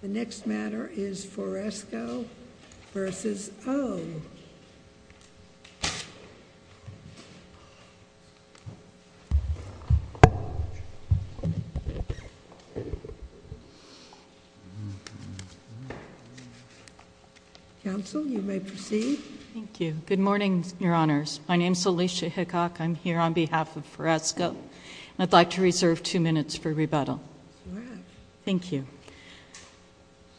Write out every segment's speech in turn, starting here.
The next matter is Foresco vs. Oh. Counsel, you may proceed. Thank you. Good morning, Your Honors. My name is Alicia Hickok. I'm here on behalf of Foresco. I'd like to reserve two minutes for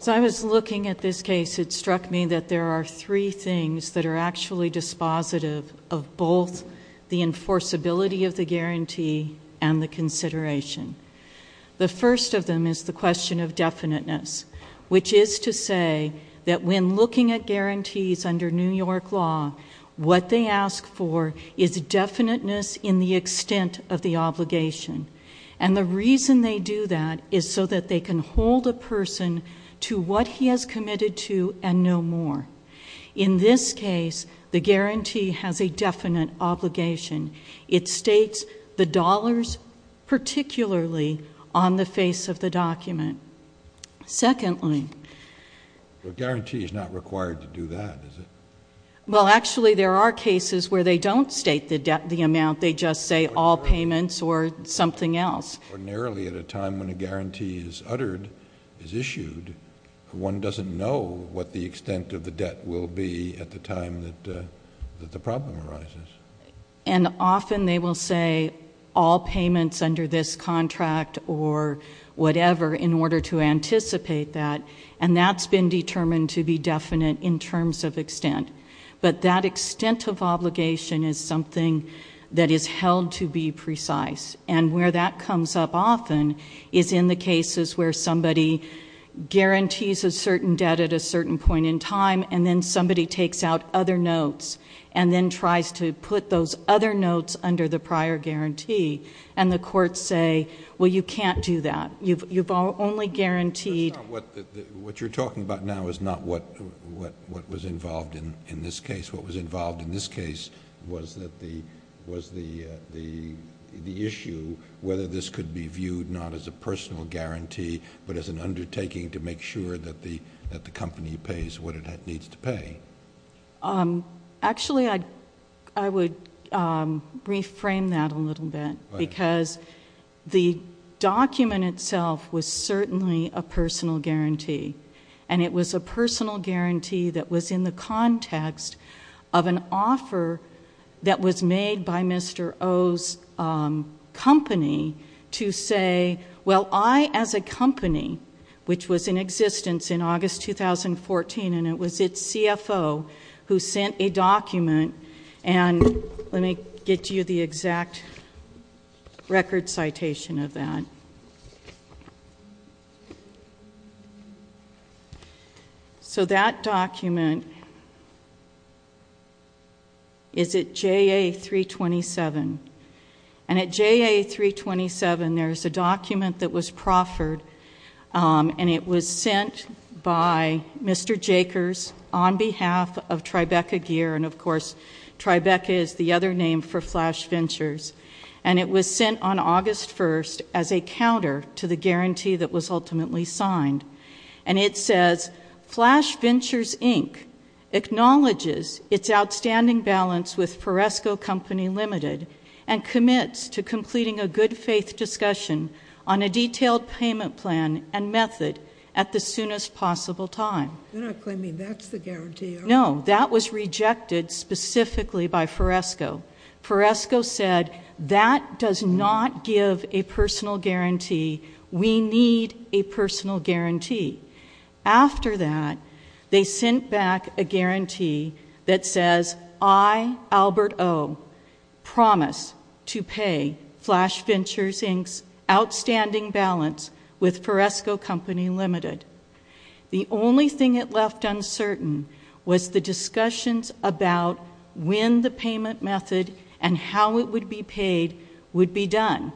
As I was looking at this case, it struck me that there are three things that are actually dispositive of both the enforceability of the guarantee and the consideration. The first of them is the question of definiteness, which is to say that when looking at guarantees under New York law, what they ask for is definiteness in the extent of the obligation. And the reason they do that is so that they can hold a person to what he has committed to and no more. In this case, the guarantee has a definite obligation. It states the dollars, particularly on the face of the document. Secondly, the guarantee is not required to do that, is it? Well, actually, there are cases where they don't state the debt, the amount. They just say all payments or something else. Ordinarily, at a time when a guarantee is uttered, is issued, one doesn't know what the extent of the debt will be at the time that the problem arises. And often they will say all payments under this contract or whatever in order to anticipate that. And that's been determined to be definite in terms of extent. But that extent of obligation is something that is held to be precise. And where that comes up often is in the cases where somebody guarantees a certain debt at a certain point in time and then somebody takes out other notes and then tries to put those other notes under the prior guarantee. And the courts say, well, you can't do that. You've only guaranteed... What you're talking about now is not what was involved in this case. What was the issue, whether this could be viewed not as a personal guarantee, but as an undertaking to make sure that the company pays what it needs to pay? Actually, I would reframe that a little bit because the document itself was certainly a personal guarantee. And it was a personal guarantee that was in the name of Mr. O's company to say, well, I as a company, which was in existence in August 2014, and it was its CFO who sent a document... And let me get you the And at JA 327, there's a document that was proffered, and it was sent by Mr. Jakers on behalf of Tribeca Gear. And of course, Tribeca is the other name for Flash Ventures. And it was sent on August 1st as a counter to the guarantee that was ultimately signed. And it says, Flash Ventures, Inc. acknowledges its outstanding balance with Foresco Company Limited and commits to completing a good faith discussion on a detailed payment plan and method at the soonest possible time. You're not claiming that's the guarantee, are you? No. That was rejected specifically by Foresco. Foresco said, that does not give a personal guarantee. We need a personal guarantee. After that, they sent back a document that says, I, Albert O, promise to pay Flash Ventures, Inc.'s outstanding balance with Foresco Company Limited. The only thing it left uncertain was the discussions about when the payment method and how it would be paid would be done.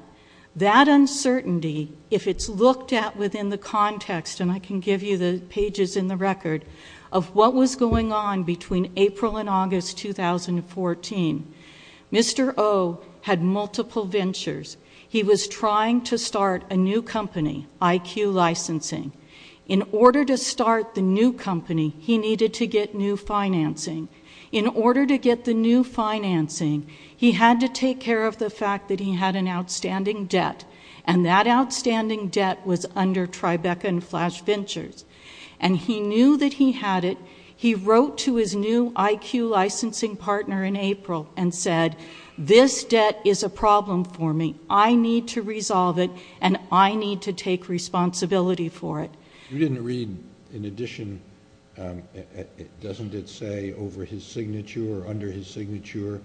That uncertainty, if it's looked at within the context, and I can give you the pages in the record, of what was going on between April and August 2014. Mr. O had multiple ventures. He was trying to start a new company, IQ Licensing. In order to start the new company, he needed to get new financing. In order to get the new financing, he had to take care of the fact that he had an And he knew that he had it. He wrote to his new IQ Licensing partner in April and said, this debt is a problem for me. I need to resolve it, and I need to take responsibility for it. You didn't read, in addition, doesn't it say over his signature or under his signature,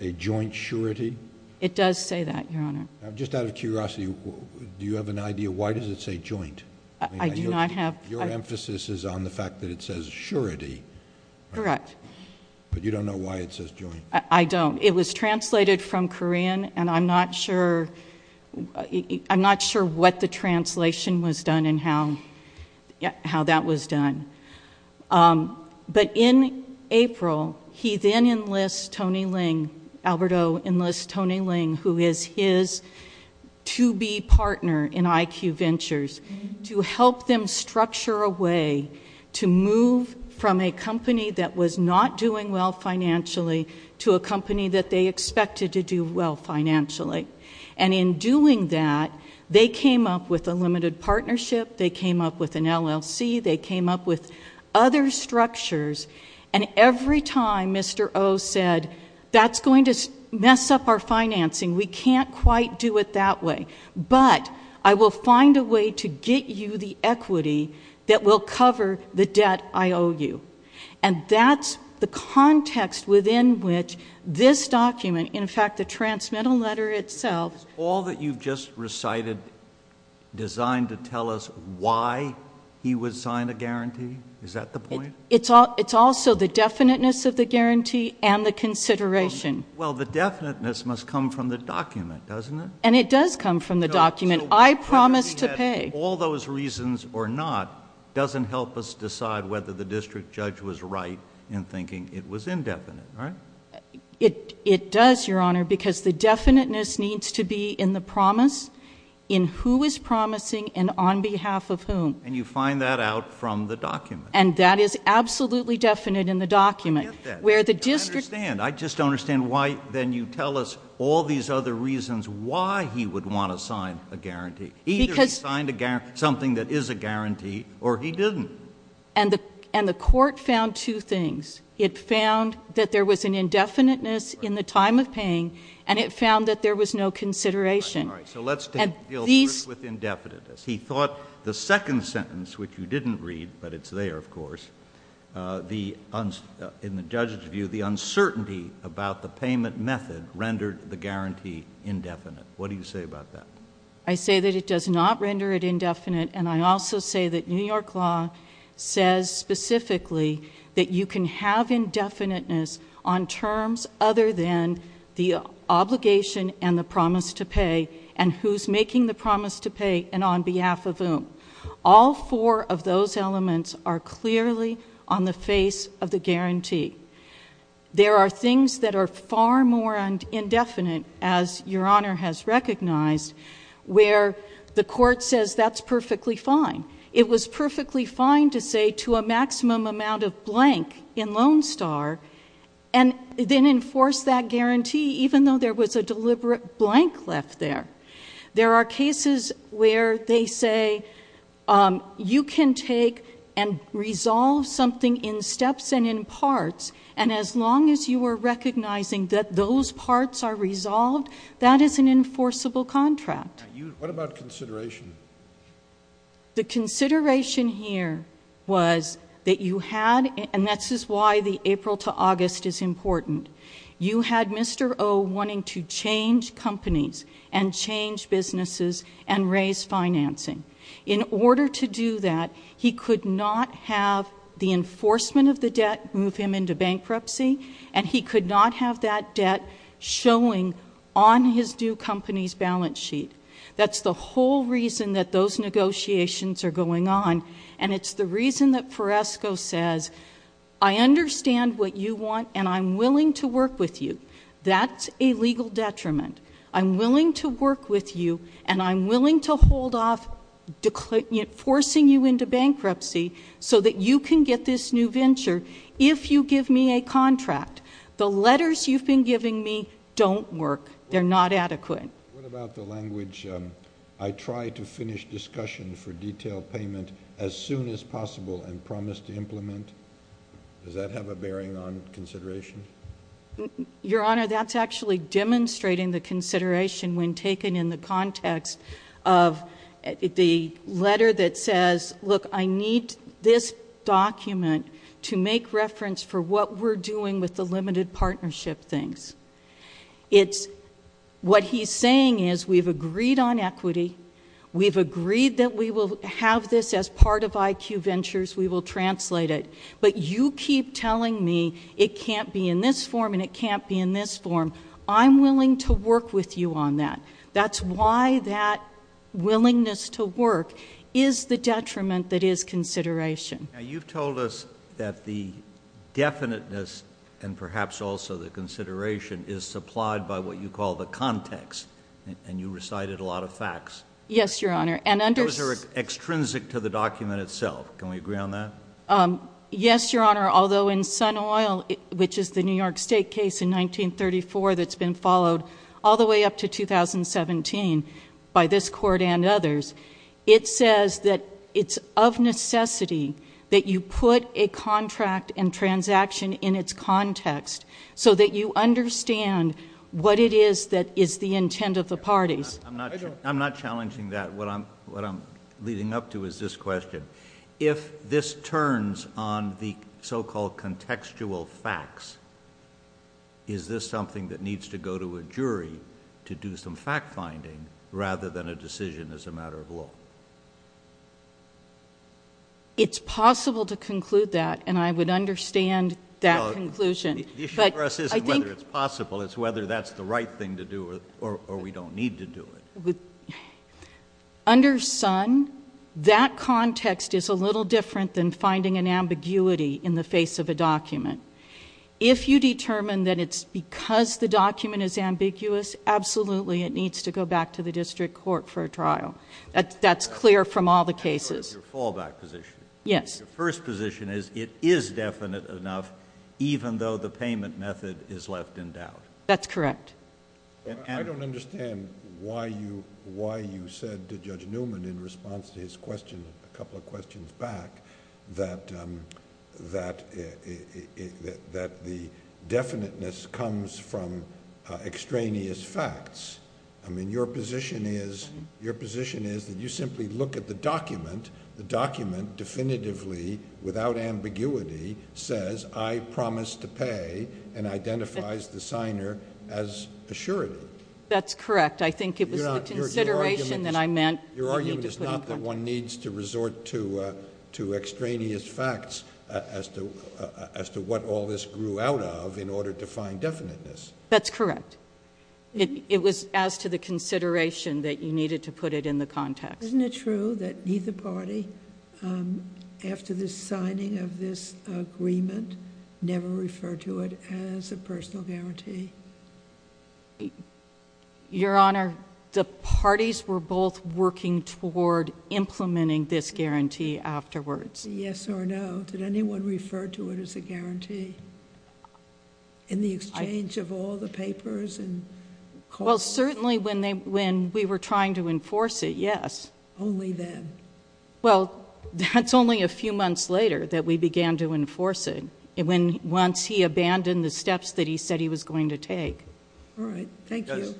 a joint surety? It does say that, Your Honor. Just out of curiosity, do you have an idea why does it say joint? I do not have. Your emphasis is on the fact that it says surety. Correct. But you don't know why it says joint? I don't. It was translated from Korean, and I'm not sure what the translation was done and how that was done. But in April, he then enlists Tony Ling, Albert O enlists Tony Ling, who is his to-be partner in IQ Ventures, to help them structure a way to move from a company that was not doing well financially to a company that they expected to do well financially. And in doing that, they came up with a limited partnership. They came up with an LLC. They came up with other structures. And every time, Mr. O said, that's going to mess up our financing. We can't quite do it that way. But I will find a way to get you the equity that will cover the debt I owe you. And that's the context within which this document, in fact, the transmittal letter itself. All that you've just recited designed to tell us why he would sign a guarantee? Is that the point? It's also the definiteness of the guarantee and the consideration. Well, the definiteness must come from the document, doesn't it? And it does come from the document. I promise to pay. All those reasons or not doesn't help us decide whether the district judge was right in thinking it was indefinite, right? It does, Your Honor, because the definiteness needs to be in the promise, in who is promising, and on behalf of whom. And you find that out from the document. And that is absolutely definite in the document. I get that. I understand. I just don't understand why then you tell us all these other reasons why he would want to sign a guarantee. Either he signed something that is a guarantee, or he didn't. And the court found two things. It found that there was an indefiniteness in the time of paying, and it found that there was no consideration. So let's deal first with indefiniteness. He thought the second sentence, which you didn't read, but it's there, of course, in the judge's view, the uncertainty about the payment method rendered the guarantee indefinite. What do you say about that? I say that it does not render it indefinite. And I also say that New York law says specifically that you can have indefiniteness on terms other than the obligation and the promise to pay, and who's making the promise to pay, and on behalf of whom. All four of those elements are clearly on the face of the guarantee. There are things that are far more indefinite, as Your Honour has recognized, where the court says that's perfectly fine. It was perfectly fine to say to a maximum amount of blank in Lone Star and then enforce that guarantee, even though there was a deliberate blank left there. There are cases where they say, you can take and resolve something in steps and in parts, and as long as you are recognizing that those parts are resolved, that is an enforceable contract. What about consideration? The consideration here was that you had, and this is why the April to August is important, you had Mr. O wanting to change companies and change businesses and raise financing. In order to do that, he could not have the enforcement of the debt move him into bankruptcy, and he could not have that debt showing on his due companies balance sheet. That's the whole reason that those negotiations are going on, and it's the reason that Foresco says, I understand what you want and I'm willing to work with you. That's a legal detriment. I'm willing to work with you, and I'm willing to hold off forcing you into bankruptcy so that you can get this new venture if you give me a contract. The letters you've been giving me don't work. They're not adequate. What about the language, I try to finish discussion for detailed payment as soon as possible and promise to implement? Does that have a bearing on consideration? Your Honor, that's actually demonstrating the consideration when taken in the context of the letter that says, look, I need this document to make reference for what we're doing with the limited partnership things. It's what he's saying is we've agreed on equity, we've agreed that we will have this as part of IQ Ventures, we will translate it, but you keep telling me it can't be in this form and it can't be in this form. I'm willing to work with you on that. That's why that willingness to work is the detriment that is consideration. Now, you've told us that the definiteness and perhaps also the consideration is supplied by what you call the context, and you recited a lot of facts. Yes, Your Honor, and under... Those are extrinsic to the document itself. Can we agree on that? Yes, Your Honor, although in Sun Oil, which is the New York State case in 1934 that's been followed all the way up to 2017 by this court and others, it says that it's of necessity that you put a contract and transaction in its context so that you understand what it is that is the intent of the parties. I'm not challenging that. What I'm leading up to is this question. If this turns on the so-called contextual facts, is this something that needs to go to a jury to do some fact-finding rather than a decision as a matter of law? It's possible to conclude that, and I would understand that conclusion. The issue for us isn't whether it's possible, it's whether that's the right thing to do or we don't need to do it. With, under Sun, that context is a little different than finding an ambiguity in the face of a document. If you determine that it's because the document is ambiguous, absolutely it needs to go back to the district court for a trial. That's clear from all the cases. I know your fallback position. Yes. Your first position is it is definite enough even though the payment method is left in doubt. That's correct. I don't understand why you said to Judge Newman in response to his question a couple of questions back that the definiteness comes from extraneous facts. I mean, your position is that you simply look at the document, the document definitively without ambiguity says, I promise to pay and identifies the signer as assuring. That's correct. I think it was the consideration that I meant. Your argument is not that one needs to resort to extraneous facts as to what all this grew out of in order to find definiteness. That's correct. It was as to the consideration that you needed to put it in the context. Isn't it true that neither party after the signing of this agreement never referred to it as a personal guarantee? Your Honor, the parties were both working toward implementing this guarantee afterwards. Yes or no, did anyone refer to it as a guarantee? In the exchange of all the papers and calls? Well, certainly when we were trying to enforce it, yes. Only then? Well, that's only a few months later that we began to enforce it. Once he abandoned the steps that he said he was going to take. All right, thank you.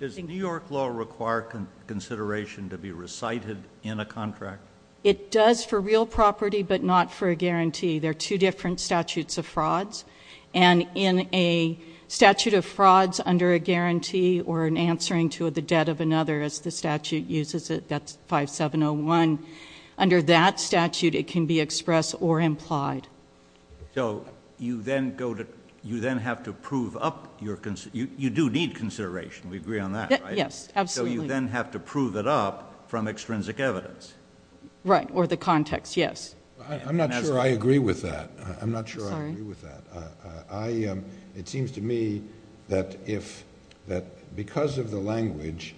Does New York law require consideration to be recited in a contract? It does for real property, but not for a guarantee. There are two different statutes of frauds. And in a statute of frauds under a guarantee or in answering to the debt of another as the statute uses it, that's 5701. Under that statute, it can be expressed or implied. So you then have to prove up your, you do need consideration, we agree on that, right? Yes, absolutely. So you then have to prove it up from extrinsic evidence. Right, or the context, yes. I'm not sure I agree with that. I'm not sure I agree with that. It seems to me that because of the language,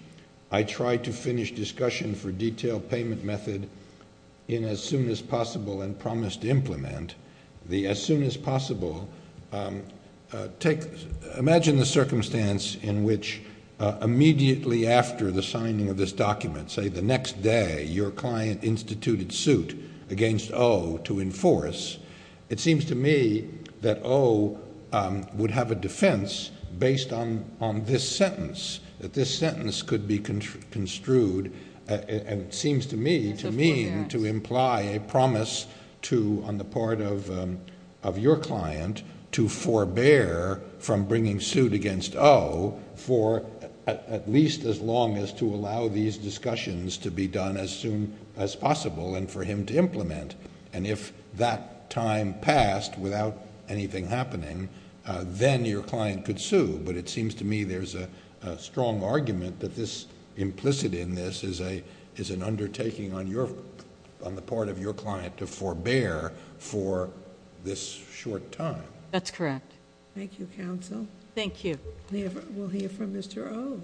I tried to finish discussion for detail payment method in as soon as possible and promised to implement the as soon as possible. Imagine the circumstance in which immediately after the signing of this document, say the next day your client instituted suit against O to enforce. It seems to me that O would have a defense based on this sentence, that this sentence could be construed and seems to me to mean to imply a promise to on the part of your client to forbear from bringing suit against O for at least as long as to allow these discussions to be done as soon as possible and for him to implement. And if that time passed without anything happening, then your client could sue. But it seems to me there's a strong argument that this implicit in this is an undertaking on the part of your client to forbear for this short time. That's correct. Thank you, counsel. Thank you. We'll hear from Mr. O.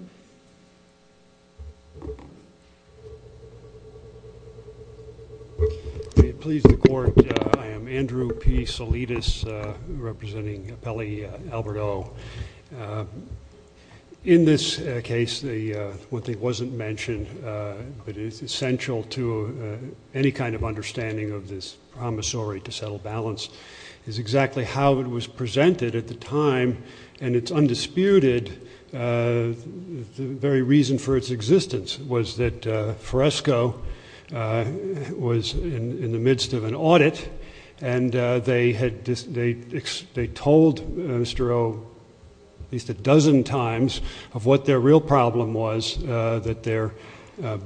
Please the court. I am Andrew P. Salidas representing Pele Albert O. In this case, what wasn't mentioned, but is essential to any kind of understanding of this promissory to settle balance is exactly how it was presented at the time and it's undisputed, the very reason for its existence was that Fresco was in the midst of an audit and they told Mr. O, at least a dozen times of what their real problem was, that their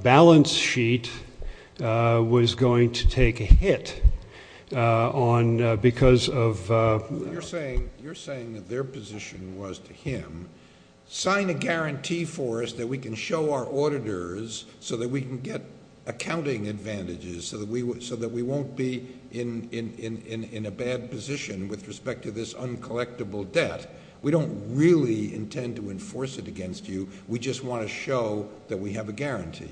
balance sheet was going to take a hit on because of... You're saying that their position was to him, sign a guarantee for us that we can show our auditors so that we can get accounting advantages so that we won't be in a bad position with respect to this uncollectible debt. We don't really intend to enforce it against you. We just want to show that we have a guarantee.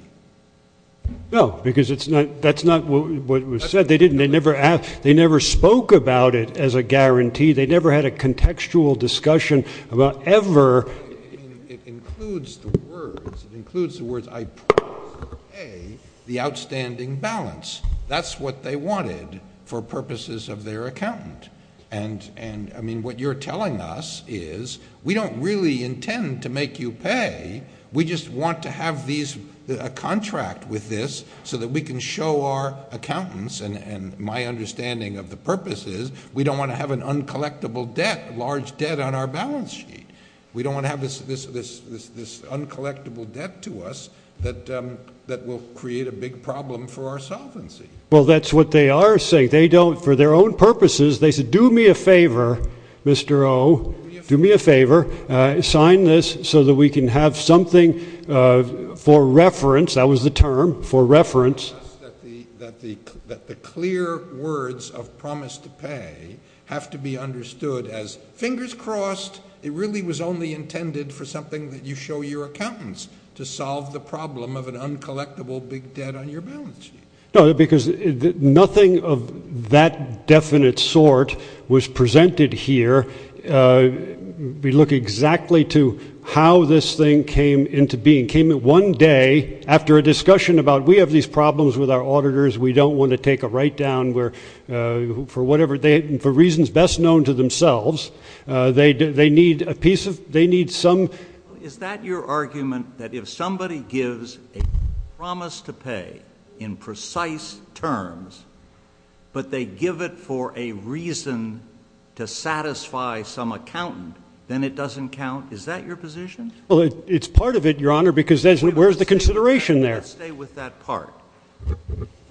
No, because that's not what was said. They never spoke about it as a guarantee. They never had a contextual discussion about ever... It includes the words, it includes the words, I prefer A, the outstanding balance. That's what they wanted for purposes of their accountant. And I mean, what you're telling us is we don't really intend to make you pay. We just want to have a contract with this so that we can show our accountants and my understanding of the purpose is we don't want to have an uncollectible debt, large debt on our balance sheet. We don't want to have this uncollectible debt to us that will create a big problem for our solvency. Well, that's what they are saying. They don't, for their own purposes, they said, do me a favor, Mr. O, do me a favor, sign this so that we can have something for reference. That was the term, for reference. That the clear words of promise to pay have to be understood as fingers crossed, it really was only intended for something that you show your accountants to solve the problem of an uncollectible big debt on your balance sheet. No, because nothing of that definite sort was presented here. We look exactly to how this thing came into being. Came at one day after a discussion about we have these problems with our auditors, we don't want to take a write down where, for whatever they, for reasons best known to themselves, they need a piece of, they need some. Is that your argument, that if somebody gives a promise to pay in precise terms, but they give it for a reason to satisfy some accountant, then it doesn't count? Is that your position? It's part of it, your honor, because where's the consideration there? Let's stay with that part.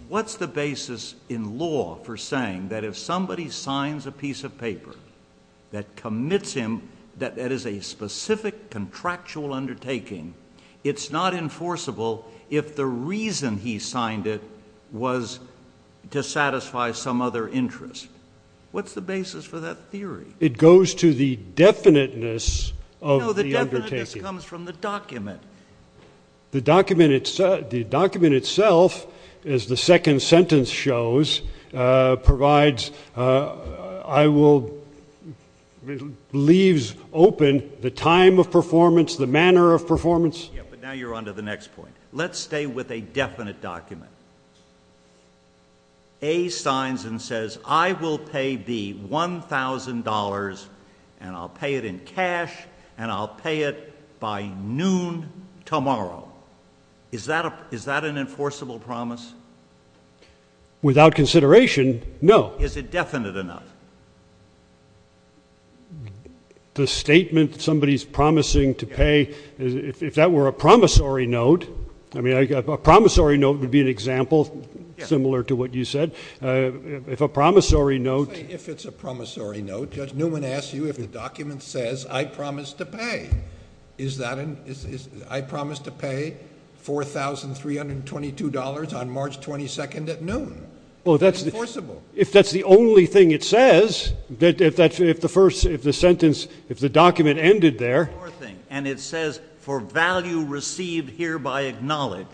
What's the basis in law for saying that if somebody signs a piece of paper that commits him, that is a specific contractual undertaking, it's not enforceable if the reason he signed it was to satisfy some other interest? What's the basis for that theory? It goes to the definiteness of the undertaking. No, the definiteness comes from the document. The document itself, as the second sentence shows, provides, leaves open the time of performance, the manner of performance. Yeah, but now you're on to the next point. Let's stay with a definite document. A signs and says, I will pay the $1,000 and I'll pay it in cash and I'll pay it by noon tomorrow. Is that an enforceable promise? Without consideration, no. Is it definite enough? The statement somebody's promising to pay, if that were a promissory note, I mean, a promissory note would be an example similar to what you said. If a promissory note. If it's a promissory note, Judge Newman asks you if the document says, I promise to pay. Is that an, I promise to pay $4,322 on March 1st, March 22nd at noon? Well, if that's the only thing it says, that if the first, if the sentence, if the document ended there. And it says, for value received hereby acknowledged,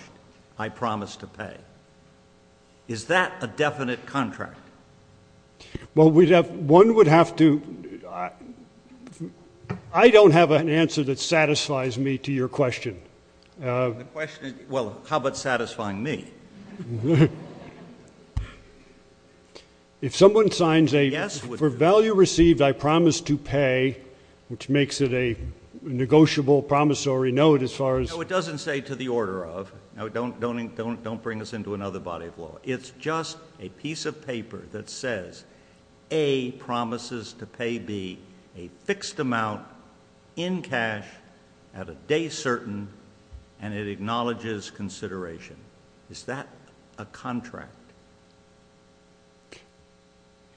I promise to pay. Is that a definite contract? Well, we'd have, one would have to, I don't have an answer that satisfies me to your question. Well, how about satisfying me? Mm-hmm. If someone signs a, for value received, I promise to pay, which makes it a negotiable promissory note as far as. No, it doesn't say to the order of. No, don't bring us into another body of law. It's just a piece of paper that says, A promises to pay B a fixed amount in cash at a day certain, and it acknowledges consideration. Is that a contract?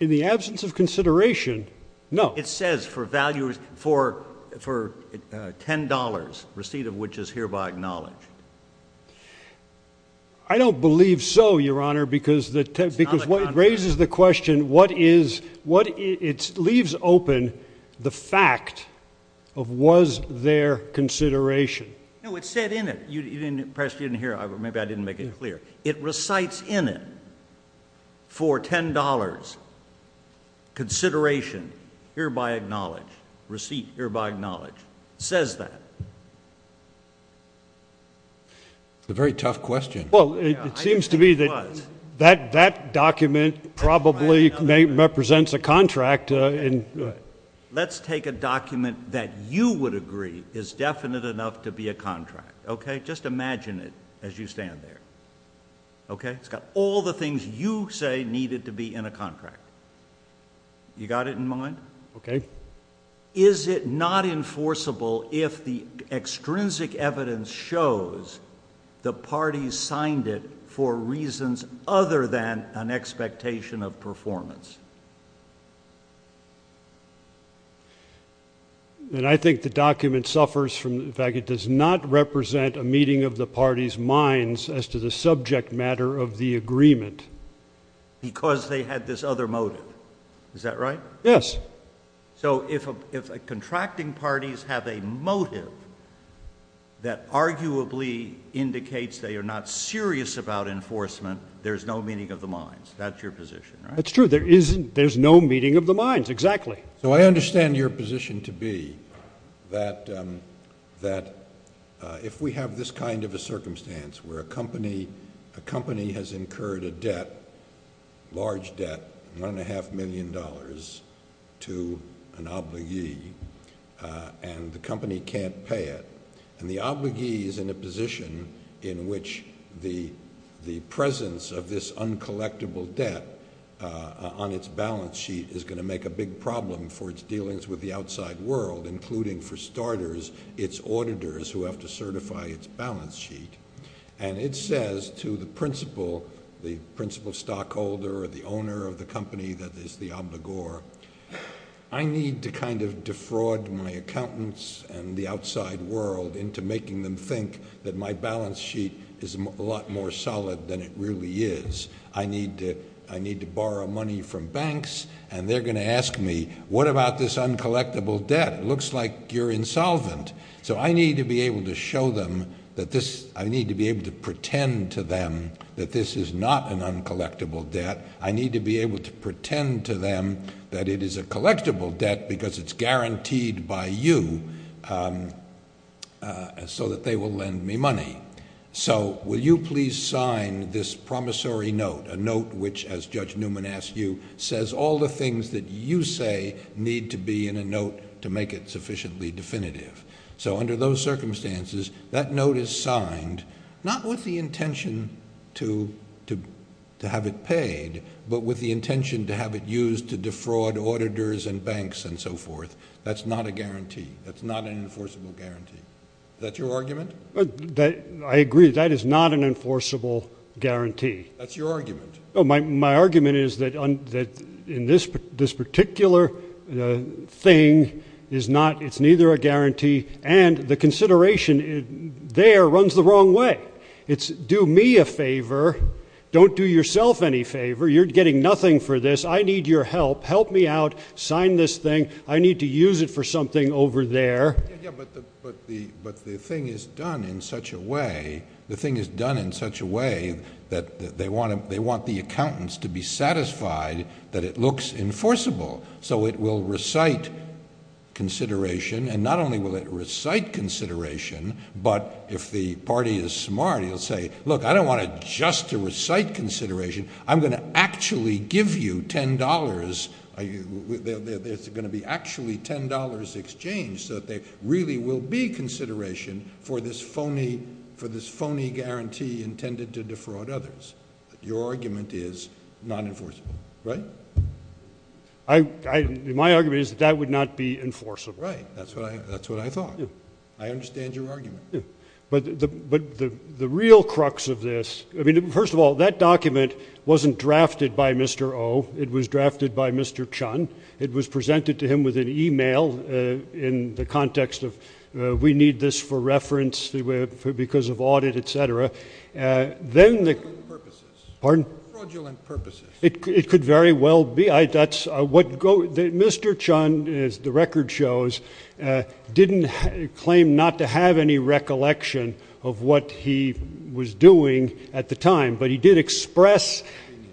In the absence of consideration, no. It says, for value, for $10, receipt of which is hereby acknowledged. I don't believe so, your honor, because what it raises the question, what is, it leaves open the fact of was there consideration? No, it said in it. You didn't, perhaps you didn't hear. Maybe I didn't make it clear. It recites in it, for $10, consideration hereby acknowledged, receipt hereby acknowledged. Says that. A very tough question. Well, it seems to me that that document probably represents a contract. Let's take a document that you would agree is definite enough to be a contract, okay? Just imagine it as you stand there, okay? It's got all the things you say needed to be in a contract. You got it in mind? Okay. Is it not enforceable if the extrinsic evidence shows the parties signed it for reasons other than an expectation of performance? And I think the document suffers from the fact it does not represent a meeting of the parties' minds as to the subject matter of the agreement. Because they had this other motive. Is that right? Yes. So if contracting parties have a motive that arguably indicates they are not serious about enforcement, there's no meeting of the minds. That's your position, right? That's true. There's no meeting of the minds, exactly. So I understand your position to be that if we have this kind of a circumstance where a company has incurred a debt, large debt, one and a half million dollars, to an obligee, and the company can't pay it, and the obligee is in a position in which the presence of this uncollectible debt on its balance sheet is gonna make a big problem for its dealings with the outside world, including, for starters, its auditors who have to certify its balance sheet. And it says to the principal, the principal stockholder or the owner of the company that is the obligor, I need to kind of defraud my accountants and the outside world into making them think that my balance sheet is a lot more solid than it really is. I need to borrow money from banks, and they're gonna ask me, what about this uncollectible debt? It looks like you're insolvent. So I need to be able to show them that this, I need to be able to pretend to them that this is not an uncollectible debt. I need to be able to pretend to them that it is a collectible debt because it's guaranteed by you so that they will lend me money. So will you please sign this promissory note, a note which, as Judge Newman asked you, says all the things that you say need to be in a note to make it sufficiently definitive. So under those circumstances, that note is signed, not with the intention to have it paid, but with the intention to have it used to defraud auditors and banks and so forth. That's not a guarantee. That's not an enforceable guarantee. That's your argument? I agree, that is not an enforceable guarantee. That's your argument. My argument is that in this particular thing, it's neither a guarantee and the consideration there runs the wrong way. It's do me a favor, don't do yourself any favor. You're getting nothing for this. I need your help. Help me out, sign this thing. I need to use it for something over there. Yeah, but the thing is done in such a way, the thing is done in such a way that they want the accountants to be satisfied that it looks enforceable. So it will recite consideration and not only will it recite consideration, but if the party is smart, he'll say, look, I don't want it just to recite consideration. I'm gonna actually give you $10. There's gonna be actually $10 exchange so that there really will be consideration for this phony guarantee intended to defraud others. Your argument is not enforceable, right? My argument is that that would not be enforceable. Right, that's what I thought. I understand your argument. But the real crux of this, I mean, first of all, that document wasn't drafted by Mr. Oh, it was drafted by Mr. Chun. It was presented to him with an email in the context of, we need this for reference because of audit, et cetera. Then the- Fraudulent purposes. Pardon? Fraudulent purposes. It could very well be. Mr. Chun, as the record shows, didn't claim not to have any recollection of what he was doing at the time, but he did express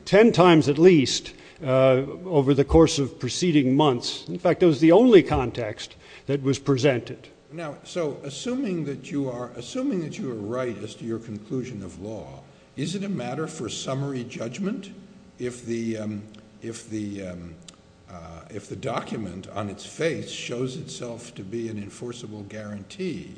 10 times at least over the course of preceding months. In fact, it was the only context that was presented. Now, so assuming that you are right as to your conclusion of law, is it a matter for summary judgment if the document on its face shows itself to be an enforceable guarantee,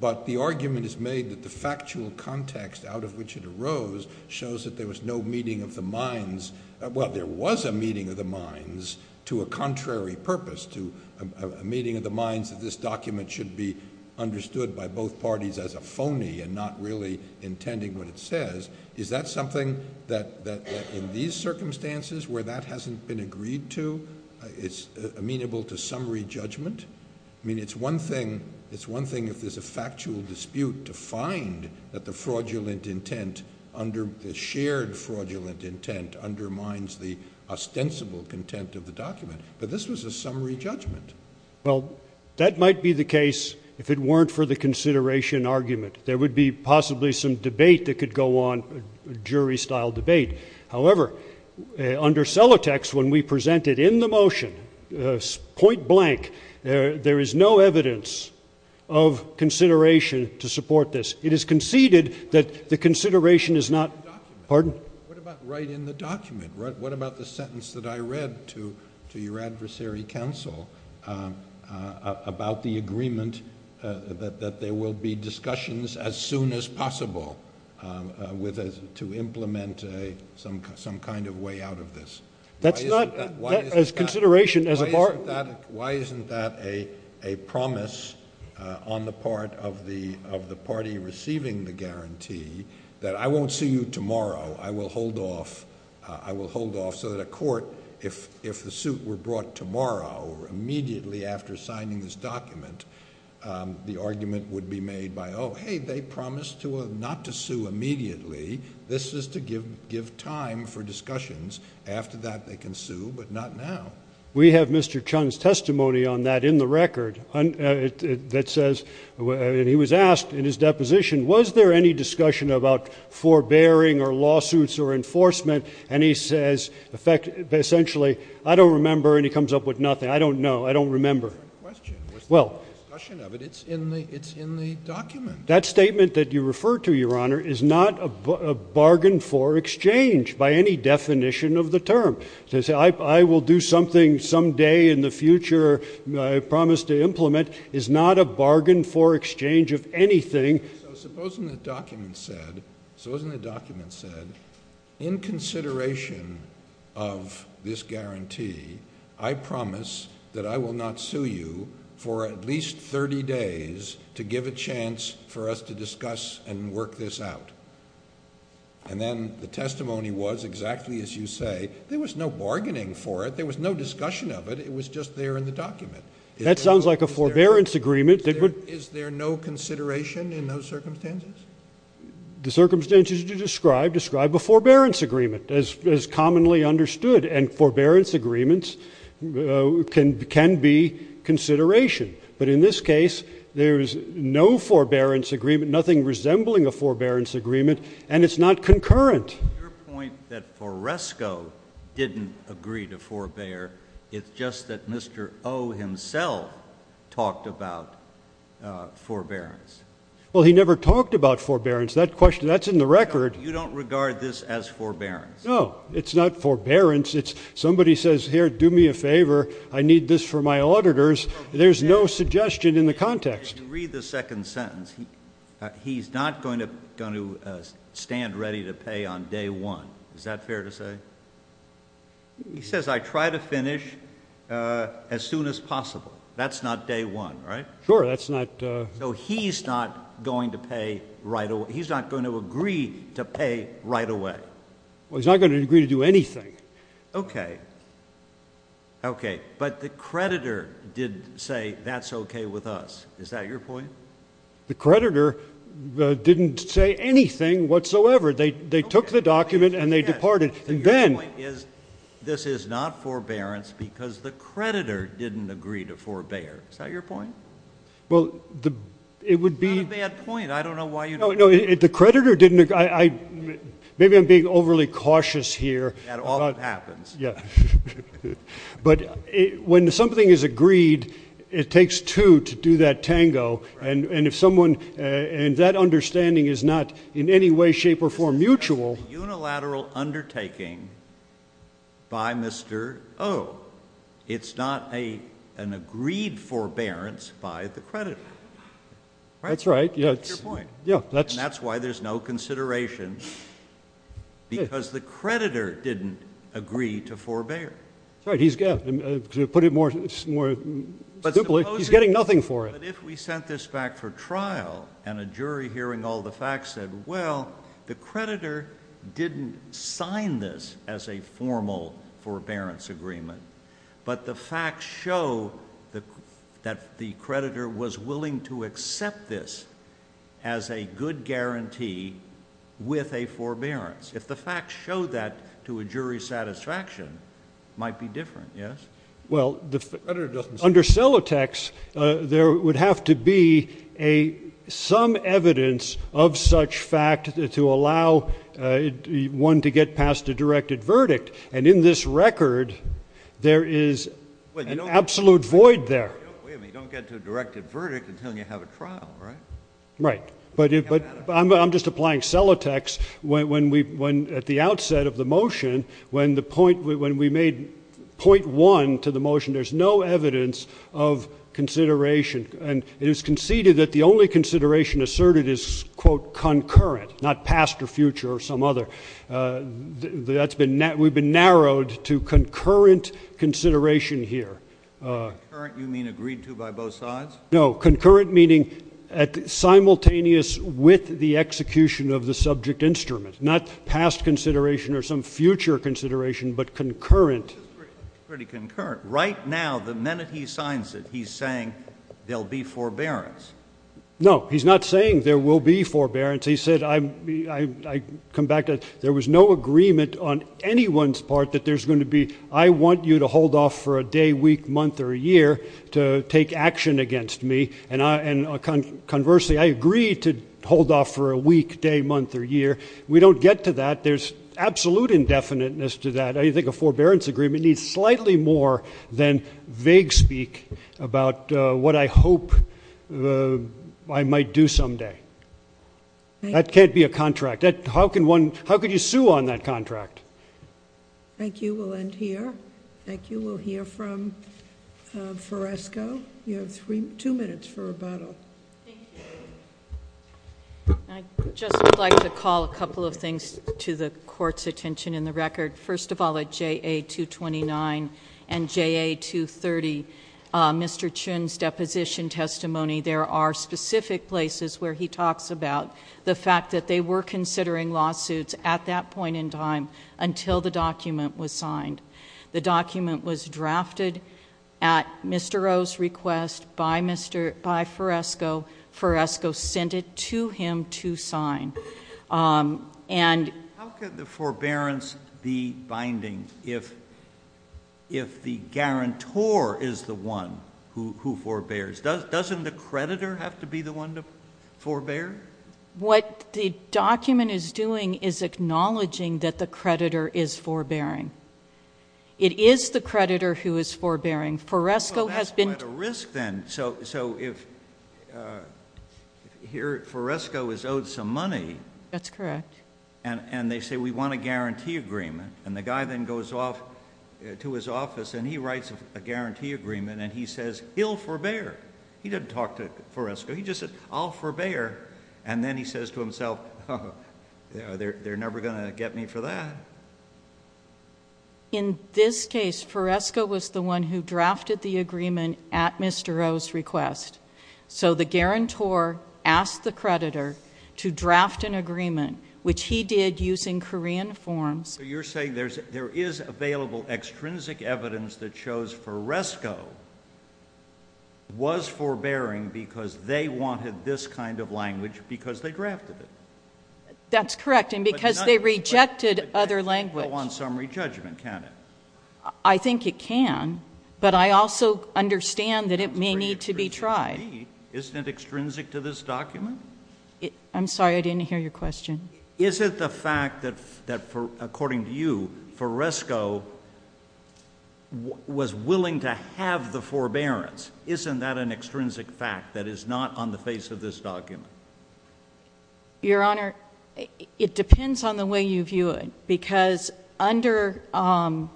but the argument is made that the factual context out of which it arose shows that there was no meeting of the minds. Well, there was a meeting of the minds to a contrary purpose, to a meeting of the minds that this document should be understood by both parties as a phony and not really intending what it says. Is that something that in these circumstances where that hasn't been agreed to, it's amenable to summary judgment? I mean, it's one thing if there's a factual dispute to find that the fraudulent intent, the shared fraudulent intent undermines the ostensible content of the document, but this was a summary judgment. Well, that might be the case if it weren't for the consideration argument, there would be possibly some debate that could go on, jury style debate. However, under Celotex, when we presented in the motion, point blank, there is no evidence of consideration to support this. It is conceded that the consideration is not, pardon? What about right in the document? What about the sentence that I read to your adversary counsel about the agreement that there will be discussions as soon as possible to implement some kind of way out of this? That's not as consideration as a bar. Why isn't that a promise on the part of the party receiving the guarantee that I won't see you tomorrow, I will hold off so that a court, if the suit were brought tomorrow or immediately after signing this document, the argument would be made by, oh, hey, they promised not to sue immediately. This is to give time for discussions. After that, they can sue, but not now. We have Mr. Chung's testimony on that in the record that says, and he was asked in his deposition, was there any discussion about forbearing or lawsuits or enforcement? And he says, essentially, I don't remember, and he comes up with nothing. I don't know. I don't remember. Well. It's in the document. That statement that you refer to, Your Honor, is not a bargain for exchange by any definition of the term. To say, I will do something someday in the future, I promise to implement, is not a bargain for exchange of anything. Supposing the document said, supposing the document said, in consideration of this guarantee, I promise that I will not sue you for at least 30 days to give a chance for us to discuss and work this out. And then the testimony was exactly as you say. There was no bargaining for it. There was no discussion of it. It was just there in the document. That sounds like a forbearance agreement. Is there no consideration in those circumstances? The circumstances you describe, describe a forbearance agreement, as commonly understood. And forbearance agreements can be consideration. But in this case, there's no forbearance agreement, nothing resembling a forbearance agreement, and it's not concurrent. Your point that Foresco didn't agree to forbear, it's just that Mr. O himself talked about forbearance. Well, he never talked about forbearance. That question, that's in the record. You don't regard this as forbearance? No, it's not forbearance. It's somebody says, here, do me a favor. I need this for my auditors. There's no suggestion in the context. Read the second sentence. He's not going to stand ready to pay on day one. Is that fair to say? He says, I try to finish as soon as possible. That's not day one, right? Sure, that's not. So he's not going to pay right away. He's not going to agree to pay right away. Well, he's not going to agree to do anything. Okay, okay. But the creditor did say, that's okay with us. Is that your point? The creditor didn't say anything whatsoever. They took the document and they departed. Your point is, this is not forbearance because the creditor didn't agree to forbear. Is that your point? Well, it would be- It's not a bad point. I don't know why you- No, the creditor didn't, maybe I'm being overly cautious here. That often happens. Yeah. But when something is agreed, it takes two to do that tango. And if someone, and that understanding is not in any way, shape, or form mutual- It's not a decision-making by Mr. Oh. It's not an agreed forbearance by the creditor. That's right. That's your point. And that's why there's no consideration because the creditor didn't agree to forbear. That's right, he's got, to put it more, he's getting nothing for it. But supposing that if we sent this back for trial and a jury hearing all the facts said, well, the creditor didn't sign this as a formal forbearance agreement, but the facts show that the creditor was willing to accept this as a good guarantee with a forbearance. If the facts show that to a jury's satisfaction, might be different, yes? Well, the creditor doesn't- Under Celotex, there would have to be some evidence of such fact to allow one to get past a directed verdict. And in this record, there is an absolute void there. Wait a minute, you don't get to a directed verdict until you have a trial, right? Right, but I'm just applying Celotex. When at the outset of the motion, when we made point one to the motion, there's no evidence of consideration. And it was conceded that the only consideration asserted is quote, concurrent, not past or future or some other. We've been narrowed to concurrent consideration here. Concurrent, you mean agreed to by both sides? No, concurrent meaning simultaneous with the execution of the subject instrument, not past consideration or some future consideration, but concurrent. Pretty concurrent. Right now, the minute he signs it, he's saying there'll be forbearance. No, he's not saying there will be forbearance. He said, I come back to, there was no agreement on anyone's part that there's gonna be, I want you to hold off for a day, week, month, or a year to take action against me. And conversely, I agree to hold off for a week, day, month, or year. We don't get to that. There's absolute indefiniteness to that. I think a forbearance agreement needs slightly more than vague speak about what I hope I might do someday. That can't be a contract. How can one, how could you sue on that contract? Thank you, we'll end here. Thank you, we'll hear from Foresco. You have two minutes for rebuttal. I just would like to call a couple of things to the court's attention in the record. First of all, at JA-229 and JA-230, Mr. Chun's deposition testimony, there are specific places where he talks about the fact that they were considering lawsuits at that point in time until the document was signed. The document was drafted at Mr. O's request by Foresco, Foresco sent it to him to sign. How could the forbearance be binding if the guarantor is the one who forbears? Doesn't the creditor have to be the one to forbear? What the document is doing is acknowledging that the creditor is forbearing. It is the creditor who is forbearing. Foresco has been- Well, that's quite a risk then. So if here, Foresco is owed some money- That's correct. And they say, we want a guarantee agreement. And the guy then goes off to his office and he writes a guarantee agreement and he says, he'll forbear. He didn't talk to Foresco. He just said, I'll forbear. And then he says to himself, they're never gonna get me for that. In this case, Foresco was the one who drafted the agreement at Mr. O's request. So the guarantor asked the creditor to draft an agreement, which he did using Korean forms. You're saying there is available extrinsic evidence that shows Foresco was forbearing because they wanted this kind of language because they drafted it. That's correct. And because they rejected other language. It can't go on summary judgment, can it? I think it can. But I also understand that it may need to be tried. Isn't it extrinsic to this document? I'm sorry, I didn't hear your question. Is it the fact that according to you, Foresco was willing to have the forbearance? Isn't that an extrinsic fact that is not on the face of this document? Your Honor, it depends on the way you view it. Because under, I've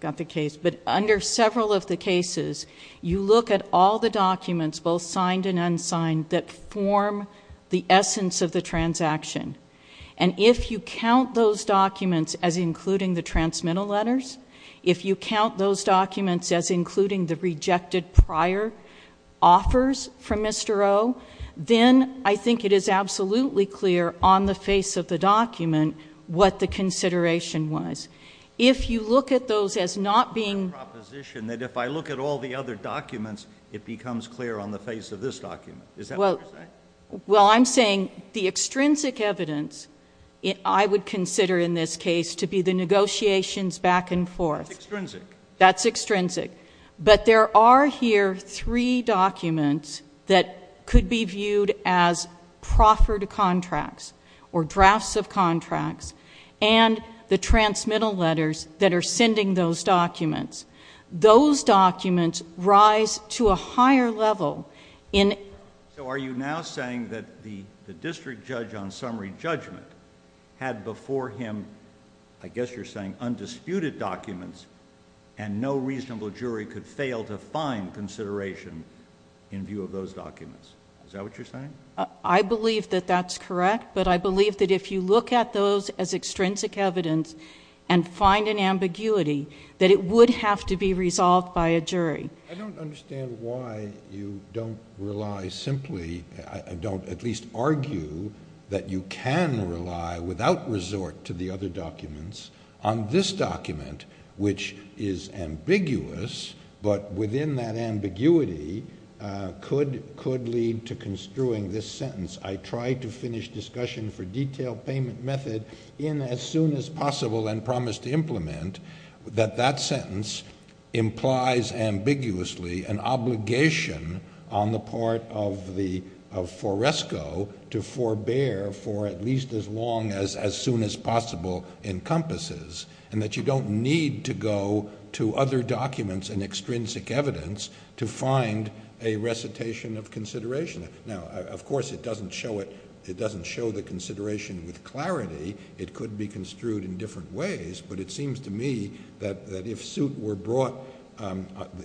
got the case, but under several of the cases, you look at all the documents, both signed and unsigned, that form the essence of the transaction. And if you count those documents as including the transmittal letters, if you count those documents as including the rejected prior offers from Mr. O, then I think it is absolutely clear on the face of the document what the consideration was. If you look at those as not being. I have a proposition that if I look at all the other documents, it becomes clear on the face of this document. Is that what you're saying? Well, I'm saying the extrinsic evidence, I would consider in this case to be the negotiations back and forth. That's extrinsic. That's extrinsic. But there are here three documents that could be viewed as proffered contracts or drafts of contracts and the transmittal letters that are sending those documents. Those documents rise to a higher level in. So are you now saying that the district judge on summary judgment had before him, I guess you're saying, undisputed documents and no reasonable jury could fail to find consideration in view of those documents? Is that what you're saying? I believe that that's correct, but I believe that if you look at those as extrinsic evidence and find an ambiguity, that it would have to be resolved by a jury. I don't understand why you don't rely simply. I don't at least argue that you can rely without resort to the other documents on this document, which is ambiguous, but within that ambiguity could lead to construing this sentence. I tried to finish discussion for detailed payment method in as soon as possible and promised to implement that that sentence implies ambiguously an obligation on the part of Foresco to forbear for at least as long as soon as possible encompasses and that you don't need to go to other documents and extrinsic evidence to find a recitation of consideration. Now, of course, it doesn't show it. It doesn't show the consideration with clarity. It could be construed in different ways, but it seems to me that if suit were brought,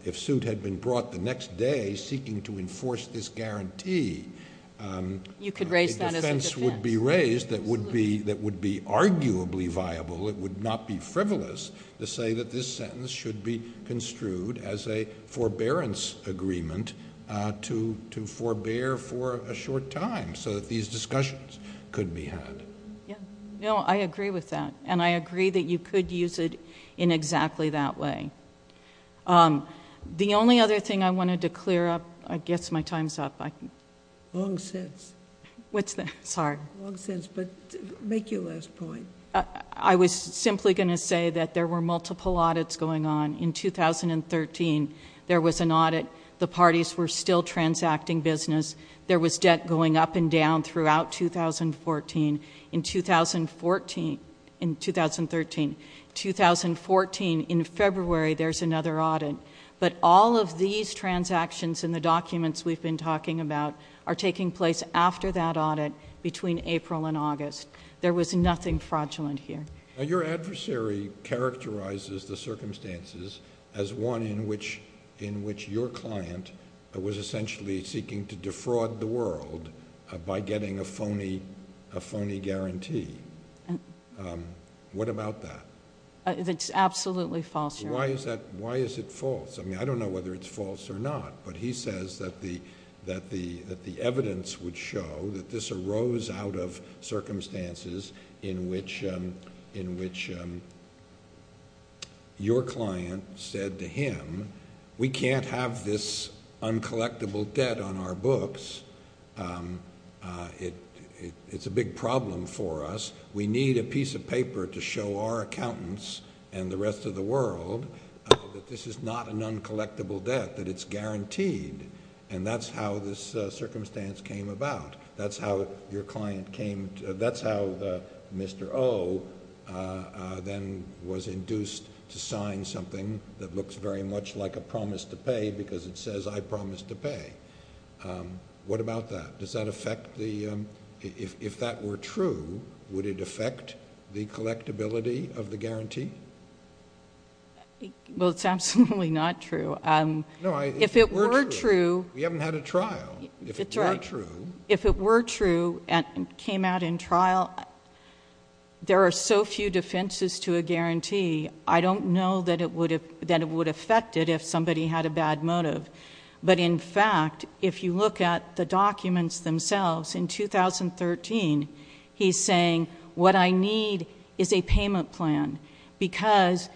if suit had been brought the next day seeking to enforce this guarantee. You could raise that as a defense. A defense would be raised that would be arguably viable. It would not be frivolous to say that this sentence should be construed as a forbearance agreement to forbear for a short time so that these discussions could be had. Yeah. No, I agree with that and I agree that you could use it in exactly that way. The only other thing I wanted to clear up, I guess my time's up. Long since. What's that? Sorry. Long since, but make your last point. I was simply gonna say that there were multiple audits going on in 2013. There was an audit. The parties were still transacting business. There was debt going up and down throughout 2014. In 2014, in 2013. 2014, in February, there's another audit. But all of these transactions in the documents we've been talking about are taking place after that audit between April and August. There was nothing fraudulent here. Your adversary characterizes the circumstances as one in which your client was essentially seeking to defraud the world by getting a phony guarantee. What about that? It's absolutely false, Your Honor. Why is it false? I mean, I don't know whether it's false or not, but he says that the evidence would show that this arose out of circumstances in which your client said to him, we can't have this uncollectible debt on our books. It's a big problem for us. We need a piece of paper to show our accountants and the rest of the world that this is not an uncollectible debt, that it's guaranteed. And that's how this circumstance came about. That's how your client came, that's how Mr. O then was induced to sign something that looks very much like a promise to pay because it says I promise to pay. What about that? Does that affect the, if that were true, would it affect the collectability of the guarantee? Well, it's absolutely not true. No, if it were true. We haven't had a trial. If it were true. And came out in trial. There are so few defenses to a guarantee. I don't know that it would affect it if somebody had a bad motive. But in fact, if you look at the documents themselves, in 2013, he's saying what I need is a payment plan because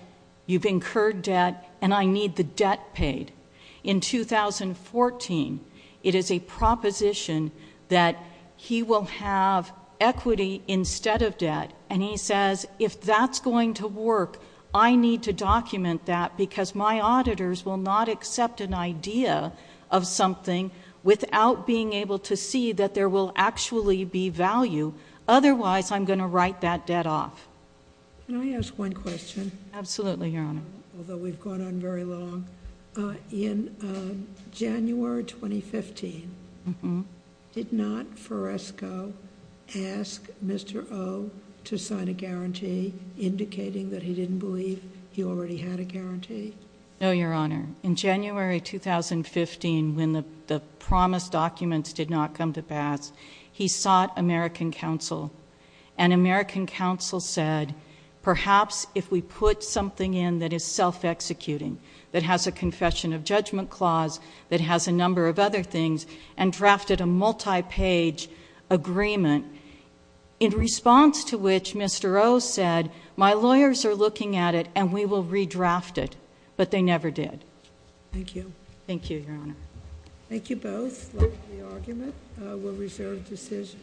you've incurred debt and I need the debt paid. In 2014, it is a proposition that he will have equity instead of debt. And he says if that's going to work, I need to document that because my auditors will not accept an idea of something without being able to see that there will actually be value. Otherwise, I'm gonna write that debt off. Can I ask one question? Absolutely, Your Honor. Although we've gone on very long. In January 2015, did not Fresco ask Mr. O to sign a guarantee indicating that he didn't believe he already had a guarantee? No, Your Honor. In January 2015, when the promised documents did not come to pass, he sought American counsel. And American counsel said, perhaps if we put something in that is self-executing, that has a confession of judgment clause, that has a number of other things, and drafted a multi-page agreement. In response to which, Mr. O said, my lawyers are looking at it and we will redraft it. But they never did. Thank you. Thank you, Your Honor. Thank you both. Like the argument, we'll reserve decision.